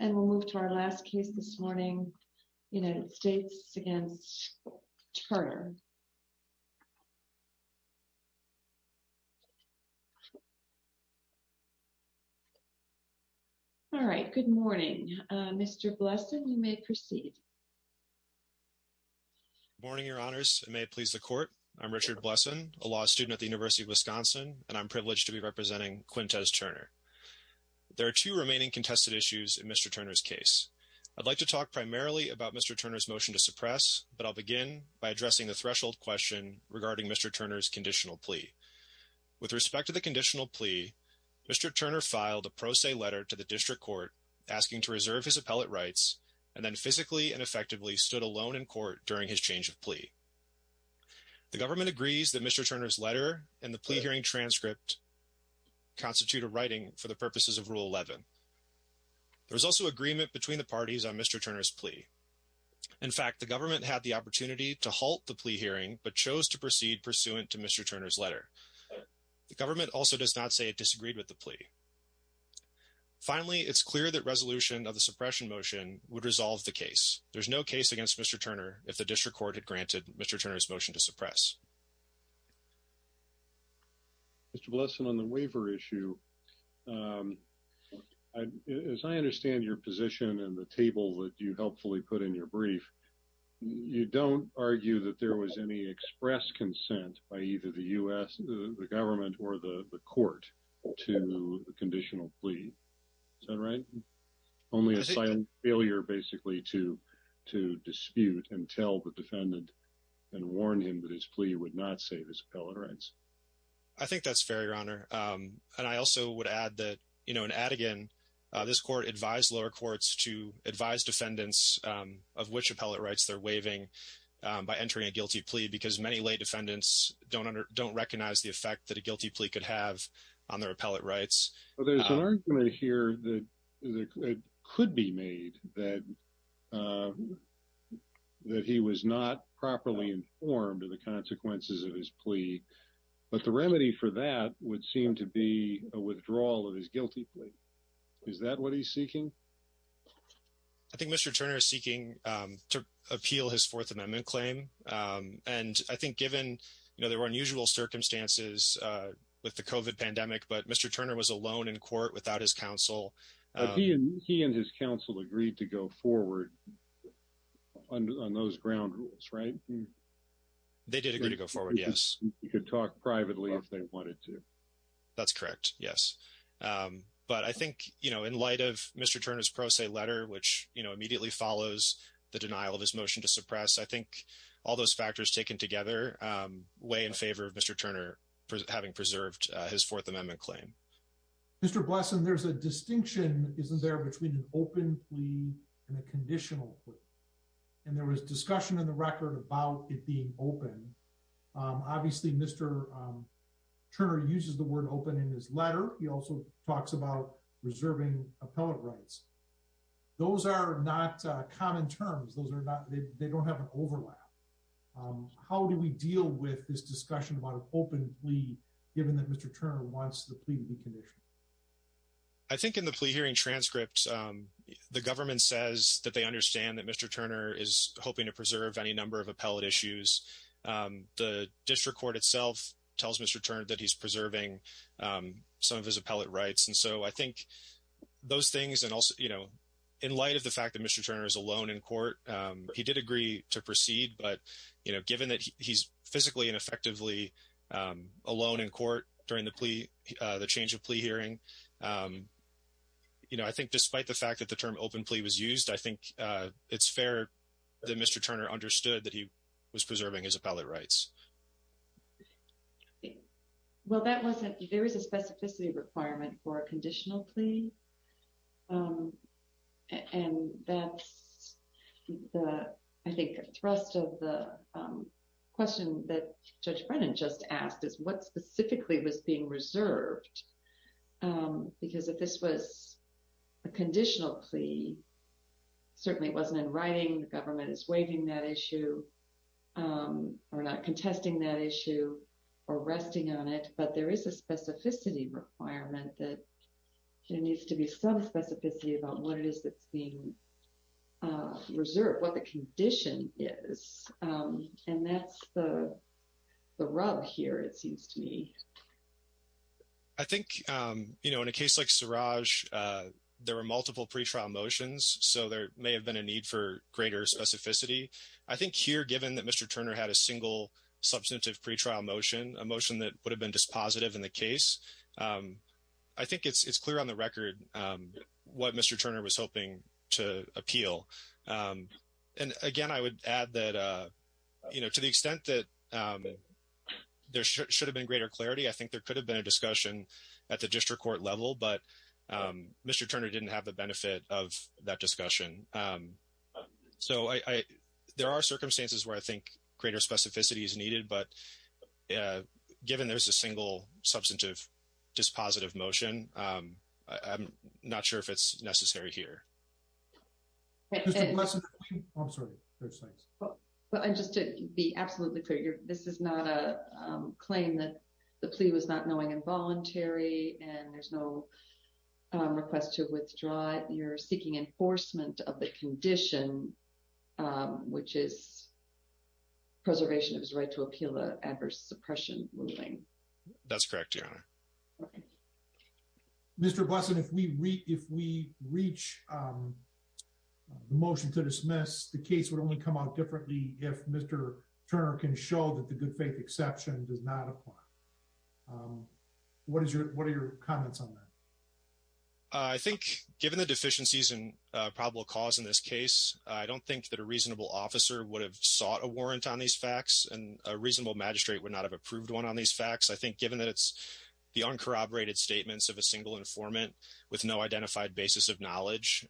And we'll move to our last case this morning, United States v. Turner. All right, good morning. Mr. Blesson, you may proceed. Good morning, Your Honors. It may please the Court. I'm Richard Blesson, a law student at the University of Wisconsin, and I'm privileged to be representing Quintez Turner. There are two remaining contested issues in Mr. Turner's case. I'd like to talk primarily about Mr. Turner's motion to suppress, but I'll begin by addressing the threshold question regarding Mr. Turner's conditional plea. With respect to the conditional plea, Mr. Turner filed a pro se letter to the district court asking to reserve his appellate rights and then physically and effectively stood alone in court during his change of plea. The government agrees that Mr. Turner's letter and the plea hearing transcript constitute a writing for the purposes of Rule 11. There was also agreement between the parties on Mr. Turner's plea. In fact, the government had the opportunity to halt the plea hearing but chose to proceed pursuant to Mr. Turner's letter. The government also does not say it disagreed with the plea. Finally, it's clear that resolution of the suppression motion would resolve the case. There's no case against Mr. Turner if the district court had granted Mr. Turner's motion to suppress. Mr. Blesson, on the waiver issue, as I understand your position and the table that you helpfully put in your brief, you don't argue that there was any express consent by either the U.S., the government, or the court to the conditional plea. Is that right? Only a silent failure, basically, to dispute and tell the defendant and warn him that his plea would not save his rights. I think that's fair, Your Honor. And I also would add that, you know, in Adigan, this court advised lower courts to advise defendants of which appellate rights they're waiving by entering a guilty plea because many lay defendants don't recognize the effect that a guilty plea could have on their appellate rights. There's an argument here that it could be made that he was not properly informed of the consequences of his plea. But the remedy for that would seem to be a withdrawal of his guilty plea. Is that what he's seeking? I think Mr. Turner is seeking to appeal his Fourth Amendment claim. And I think given, you know, there were unusual circumstances with the COVID pandemic, but Mr. Turner was alone in court without his counsel. He and his counsel agreed to go forward on those ground rules, right? They did agree to go forward, yes. You could talk privately if they wanted to. That's correct, yes. But I think, you know, in light of Mr. Turner's pro se letter, which, you know, immediately follows the denial of his motion to suppress, I think all those factors taken together weigh in favor of Mr. Turner having preserved his Fourth Amendment claim. Mr. Blesson, there's a distinction, isn't there, between an open plea and a conditional plea? And there was discussion in the record about it being open. Obviously, Mr. Turner uses the word open in his letter. He also talks about reserving appellate rights. Those are not common terms. Those are not, they don't have an overlap. How do we deal with this discussion about an open plea, given that Mr. Turner wants the plea to be conditional? I think in the plea hearing transcript, the government says that they understand that Mr. Turner is hoping to preserve any number of appellate issues. The district court itself tells Mr. Turner that he's preserving some of his appellate rights. And so I think those things, and also, you know, in light of the fact that Mr. Turner is alone in court, he did agree to proceed. But, you know, given that he's physically and effectively alone in court during the change of plea hearing, you know, I think despite the fact that the term open plea was used, I think it's fair that Mr. Turner understood that he was preserving his appellate rights. Well, that wasn't, there was a specificity requirement for a conditional plea. And that's the, I think, thrust of the question that Judge Brennan just asked is what specifically was being reserved? Because if this was a conditional plea, certainly it wasn't in writing, the government is waiving that issue, or not contesting that issue, or resting on it. But there is a specificity requirement that there needs to be some specificity about what it is that's being reserved, what the condition is. And that's the rub here, it seems to me. I think, you know, in a case like Suraj, there were multiple pretrial motions. So there may have been a need for greater specificity. I think here, given that Mr. Turner had a single substantive pretrial motion, a motion that would have been dispositive in the case, I think it's clear on the record what Mr. Turner was hoping to appeal. And again, I would add that, you know, to the extent that there should have been greater clarity, I think there could have been a discussion at the district court level, but Mr. Turner didn't have the benefit of that discussion. So there are circumstances where I think greater specificity is needed, but given there's a single substantive dispositive motion, I'm not sure if it's necessary here. I'm sorry. Well, just to be absolutely clear, this is not a claim that the plea was not knowing involuntary, and there's no request to withdraw it. You're seeking enforcement of the condition, which is preservation of his right to appeal the adverse suppression ruling. That's correct, Your Honor. Mr. Busson, if we reach the motion to dismiss, the case would only come out differently if Mr. Turner can show that the good faith exception does not apply. What are your comments on that? I think given the deficiencies in probable cause in this case, I don't think that a reasonable officer would have sought a warrant on these facts, and a reasonable magistrate would not have approved one on these facts. I think given that it's the uncorroborated statements of a single informant with no identified basis of knowledge,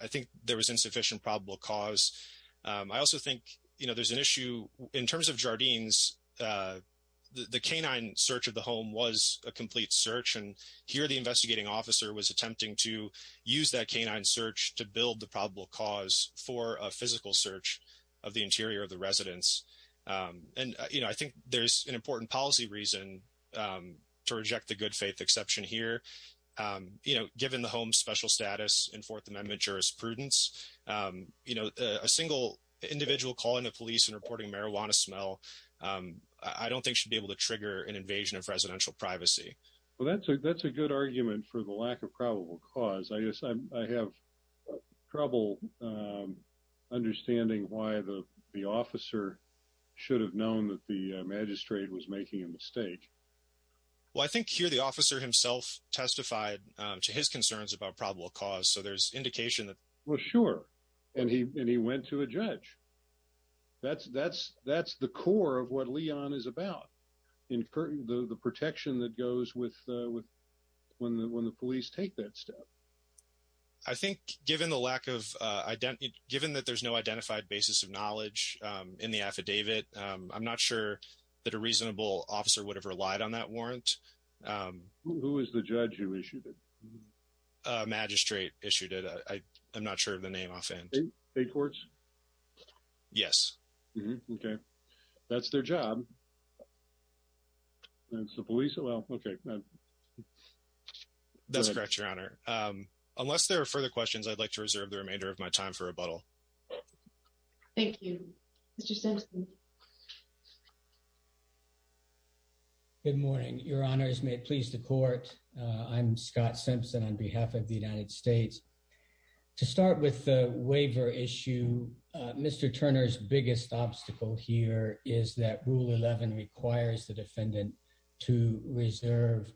I think there was insufficient probable cause. I also think there's an issue in terms of Jardines. The canine search of the home was a complete search, and here the investigating officer was attempting to use that canine search to build the probable cause for a physical search of the interior of the residence. I think there's an important policy reason to reject the good faith exception here. Given the home's special status in Fourth Amendment jurisprudence, a single individual calling the police and reporting marijuana smell, I don't think should be able to trigger an invasion of residential privacy. Well, that's a good argument for the lack of probable cause. I guess I have trouble understanding why the officer should have known that the magistrate was making a mistake. Well, I think here the officer himself testified to his concerns about probable cause, so there's indication that... Well, sure, and he went to a judge. That's the core of what Leon is about, the protection that goes with when the police take that step. I think given that there's no that a reasonable officer would have relied on that warrant. Who is the judge who issued it? A magistrate issued it. I'm not sure of the name offhand. A courts? Yes. Okay. That's their job. That's the police? Well, okay. That's correct, Your Honor. Unless there are further questions, I'd like to reserve the remainder of my time for rebuttal. Thank you. Mr. Simpson. Good morning, Your Honors. May it please the court. I'm Scott Simpson on behalf of the United States. To start with the waiver issue, Mr. Turner's biggest obstacle here is that Rule 11 requires the defendant to reserve,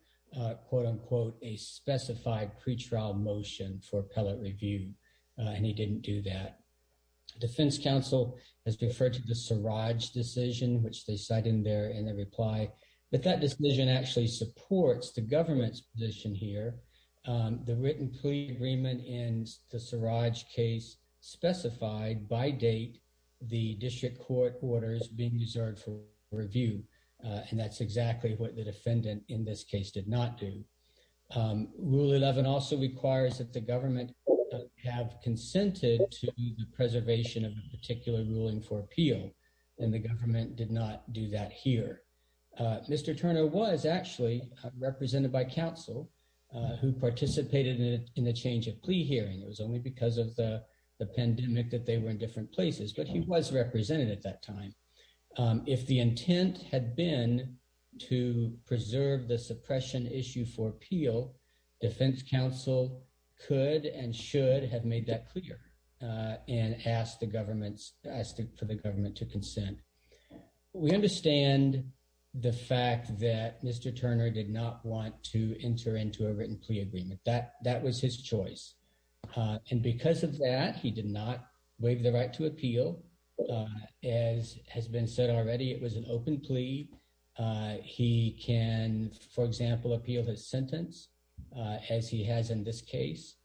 quote unquote, a specified pretrial motion for appellate review, and he didn't do that. Defense counsel has referred to the Siraj decision, which they cite in their reply, but that decision actually supports the government's position here. The written plea agreement in the Siraj case specified by date the district court orders being reserved for review, and that's exactly what the defendant in this case did not do. Rule 11 also requires that the government have consented to the preservation of a particular ruling for appeal, and the government did not do that here. Mr. Turner was actually represented by counsel who participated in the change of plea hearing. It was only because of the pandemic that they were in different places, but he was represented at that time. If the intent had been to preserve the suppression issue for appeal, defense counsel could and should have made that clear and asked for the government to consent. We understand the fact that Mr. Turner did not want to enter into a written plea agreement. That was his choice, and because of that, he did not waive the right to appeal. As has been said already, it was an open plea. He can, for example, appeal his sentence as he has in this case,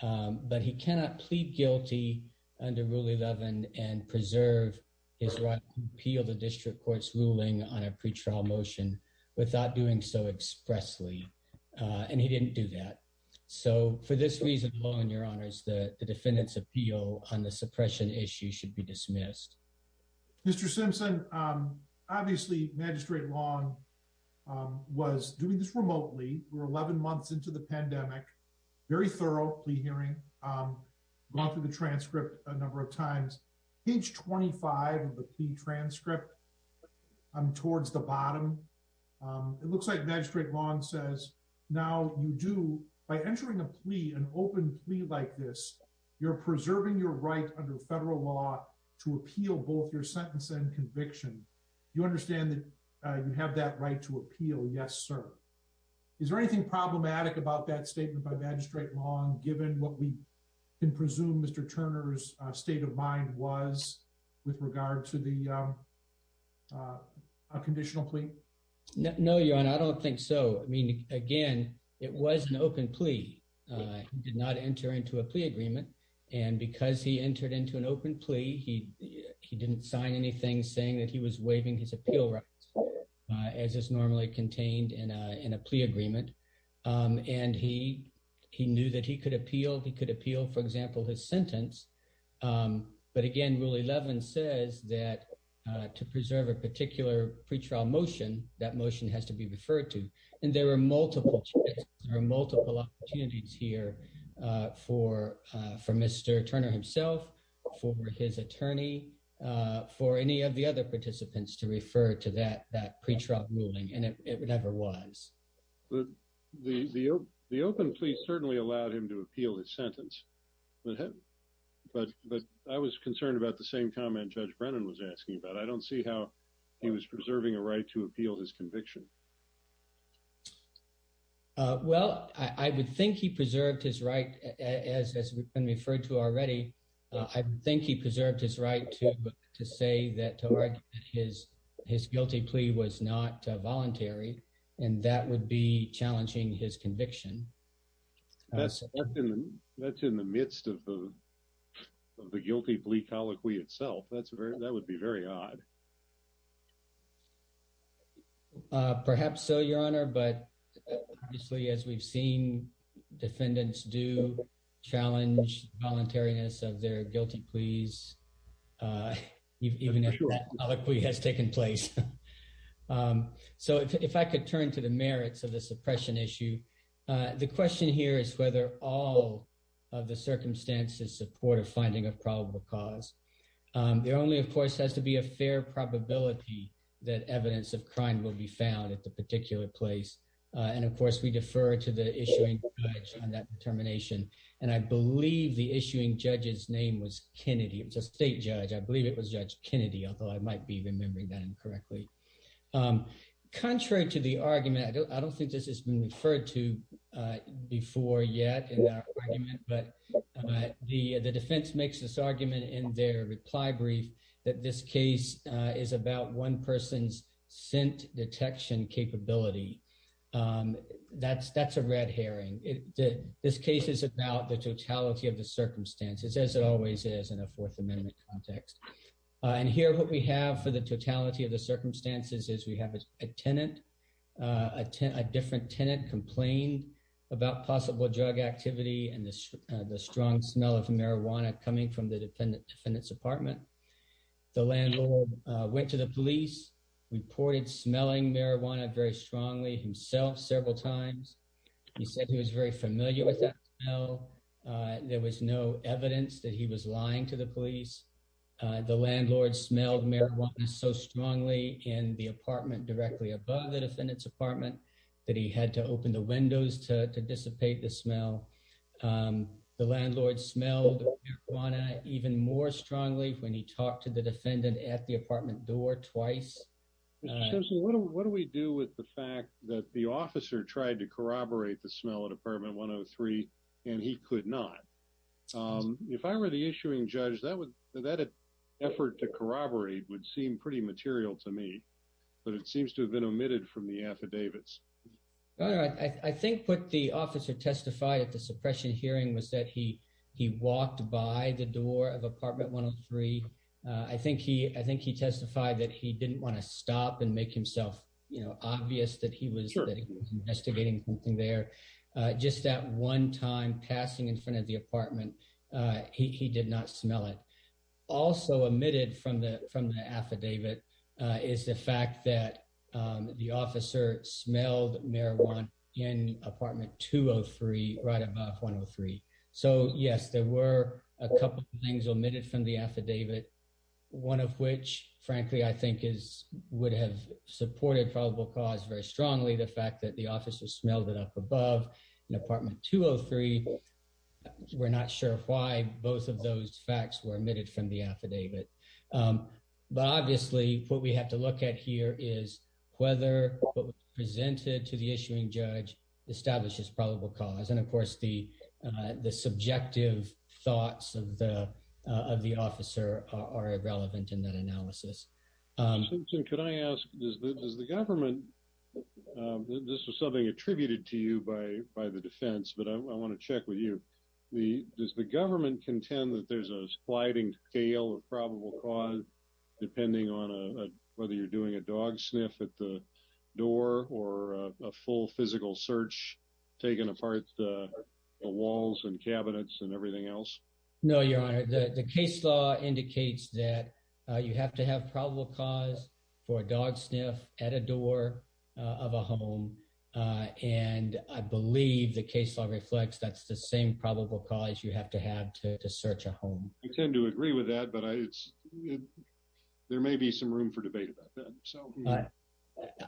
but he cannot plead guilty under Rule 11 and preserve his right to appeal the district court's ruling on a pretrial motion without doing so expressly, and he didn't do that. So for this reason alone, your honors, the defendant's appeal on the suppression issue should be dismissed. Mr. Simpson, obviously Magistrate Long was doing this remotely. We're 11 months into the pandemic, very thorough plea hearing, gone through the transcript a number of times. Page 25 of the plea transcript towards the bottom, it looks like Magistrate Long says, now you do, by entering a plea, an open plea like this, you're preserving your right under federal law to appeal both your sentence and conviction. You understand that you have that right to appeal? Yes, sir. Is there anything problematic about that statement by Magistrate Long given what we can presume Mr. Turner's state of mind was with regard to the conditional plea? No, your honor, I don't think so. I mean, again, it was an open plea. He did not enter into a plea agreement, and because he entered into an open plea, he didn't sign anything saying that he was waiving his appeal rights, as is normally contained in a plea agreement. And he knew that he could appeal. He could appeal, for example, his sentence. But again, Rule 11 says that to preserve a particular pretrial motion, that motion has to be referred to. And there are multiple chances, there are multiple opportunities here for Mr. Turner himself, for his attorney, for any of the other participants to refer to that pretrial ruling, and it never was. The open plea certainly allowed him to appeal his sentence, but I was concerned about the same comment Judge Brennan was asking about. I don't see how he was preserving a right to appeal his conviction. Well, I would think he preserved his right, as we can refer to already. I think he preserved his right to say that his guilty plea was not voluntary, and that would be challenging his conviction. That's in the midst of the guilty plea colloquy itself. That would be very odd. Perhaps so, Your Honor, but obviously, as we've seen, defendants do challenge voluntariness of their guilty pleas, even if that colloquy has taken place. So, if I could turn to the merits of the suppression issue, the question here is whether all of the circumstances support a finding of probable cause. There only, of course, has to be a fair probability that evidence of crime will be found at the particular place, and of course, we defer to the issuing judge on that determination, and I believe the issuing judge's name was Kennedy. It was a state judge. I believe it was Judge Kennedy, although I might be remembering that incorrectly. Contrary to the argument, I don't think this has been referred to before yet in that argument, but the defense makes this argument in their reply brief that this case is about one person's scent detection capability. That's a red herring. This case is about the totality of the circumstances, as it always is in a Fourth Amendment context, and here what we have for the totality of the circumstances is we have a tenant, a different tenant complained about possible drug activity and the strong smell of marijuana coming from the defendant's apartment. The landlord went to the police, reported smelling marijuana very strongly himself several times. He said he was very familiar with that smell. There was no evidence that he was lying to the police. The landlord smelled marijuana so strongly in the apartment directly above the defendant's apartment that he had to open the windows to marijuana even more strongly when he talked to the defendant at the apartment door twice. What do we do with the fact that the officer tried to corroborate the smell of apartment 103 and he could not? If I were the issuing judge, that effort to corroborate would seem pretty material to me, but it seems to have been omitted from the affidavits. I think what the officer testified at the suppression hearing was that he he walked by the door of apartment 103. I think he testified that he didn't want to stop and make himself obvious that he was investigating something there. Just that one time passing in front of the apartment, he did not smell it. Also omitted from the affidavit is the fact that the officer smelled marijuana in apartment 203, right above 103. So yes, there were a couple of things omitted from the affidavit. One of which, frankly, I think would have supported probable cause very strongly, the fact that the officer smelled it up above in apartment 203. We're not sure why both of those facts were omitted. But obviously, what we have to look at here is whether what was presented to the issuing judge establishes probable cause. And of course, the subjective thoughts of the officer are irrelevant in that analysis. Simpson, could I ask, does the government, this was something attributed to you by the defense, but I want to check with you. Does the government contend that there's a sliding scale of probable cause, depending on whether you're doing a dog sniff at the door or a full physical search, taking apart the walls and cabinets and everything else? No, your honor, the case law indicates that you have to have probable cause for a dog sniff at a door of a home. And I believe the case law reflects that's the same probable cause you have to search a home. I tend to agree with that, but there may be some room for debate about that.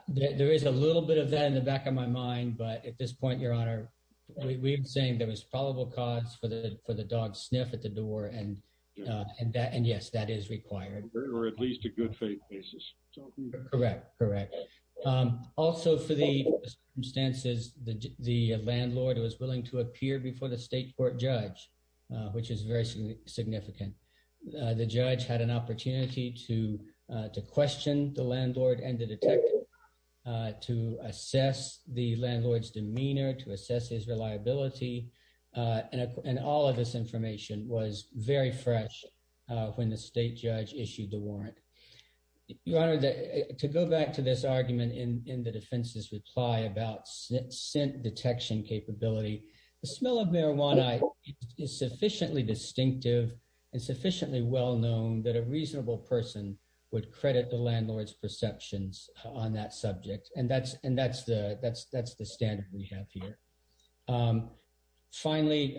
There is a little bit of that in the back of my mind, but at this point, your honor, we're saying there was probable cause for the dog sniff at the door. And yes, that is required. Or at least a good faith basis. Correct, correct. Also for the circumstances, the landlord was which is very significant. The judge had an opportunity to question the landlord and the detective to assess the landlord's demeanor, to assess his reliability. And all of this information was very fresh when the state judge issued the warrant. Your honor, to go back to this argument in the defense's reply about scent detection capability, the smell of marijuana is sufficiently distinctive and sufficiently well-known that a reasonable person would credit the landlord's perceptions on that subject. And that's the standard we have here. Finally,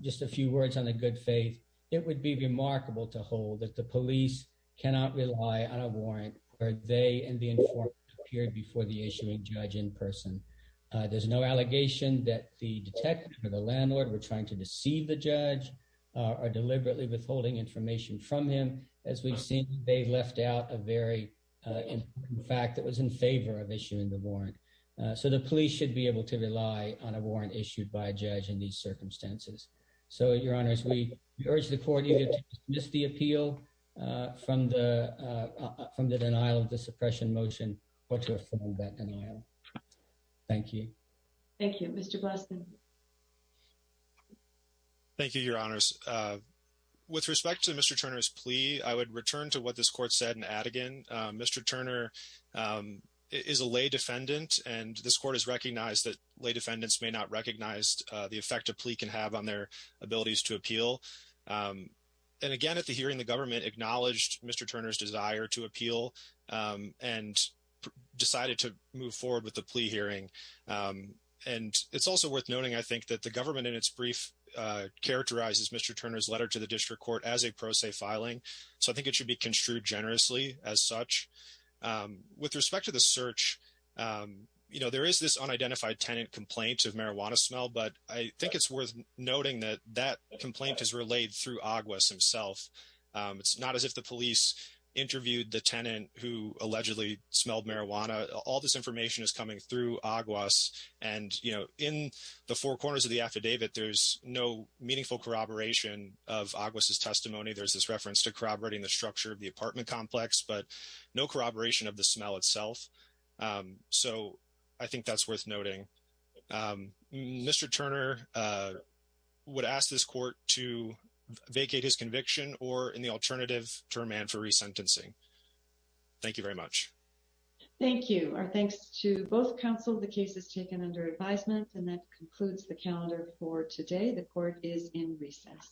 just a few words on the good faith. It would be remarkable to hold that the police cannot rely on a warrant where they and the informant appeared before the issuing judge in person. There's no allegation that the detective or the landlord were trying to deceive the judge or deliberately withholding information from him. As we've seen, they left out a very fact that was in favor of issuing the warrant. So the police should be able to rely on a warrant issued by a judge in these circumstances. So your honors, we urge the court to dismiss the appeal from the denial of the suppression motion or to affirm that denial. Thank you. Thank you. Mr. Blasen. Thank you, your honors. With respect to Mr. Turner's plea, I would return to what this court said in Adigan. Mr. Turner is a lay defendant and this court has recognized that lay defendants may not recognize the effect a plea can have on their abilities to appeal. And again, at the hearing, the government acknowledged Mr. Turner's desire to appeal and decided to move forward with the plea hearing. And it's also worth noting, I think, that the government in its brief characterizes Mr. Turner's letter to the district court as a pro se filing. So I think it should be construed generously as such. With respect to the search, you know, there is this unidentified tenant complaint of marijuana smell, but I think it's worth noting that that complaint is relayed through Aguas himself. It's not as if the police interviewed the tenant who allegedly smelled marijuana. All this information is coming through Aguas. And, you know, in the four corners of the affidavit, there's no meaningful corroboration of Aguas' testimony. There's this reference to corroborating the structure of the apartment complex, but no corroboration of the smell itself. So I think that's worth noting. Mr. Turner would ask this court to vacate his conviction or in the alternative term and for resentencing. Thank you very much. Thank you. Our thanks to both counsel. The case is taken under advisement and that concludes the calendar for today. The court is in recess.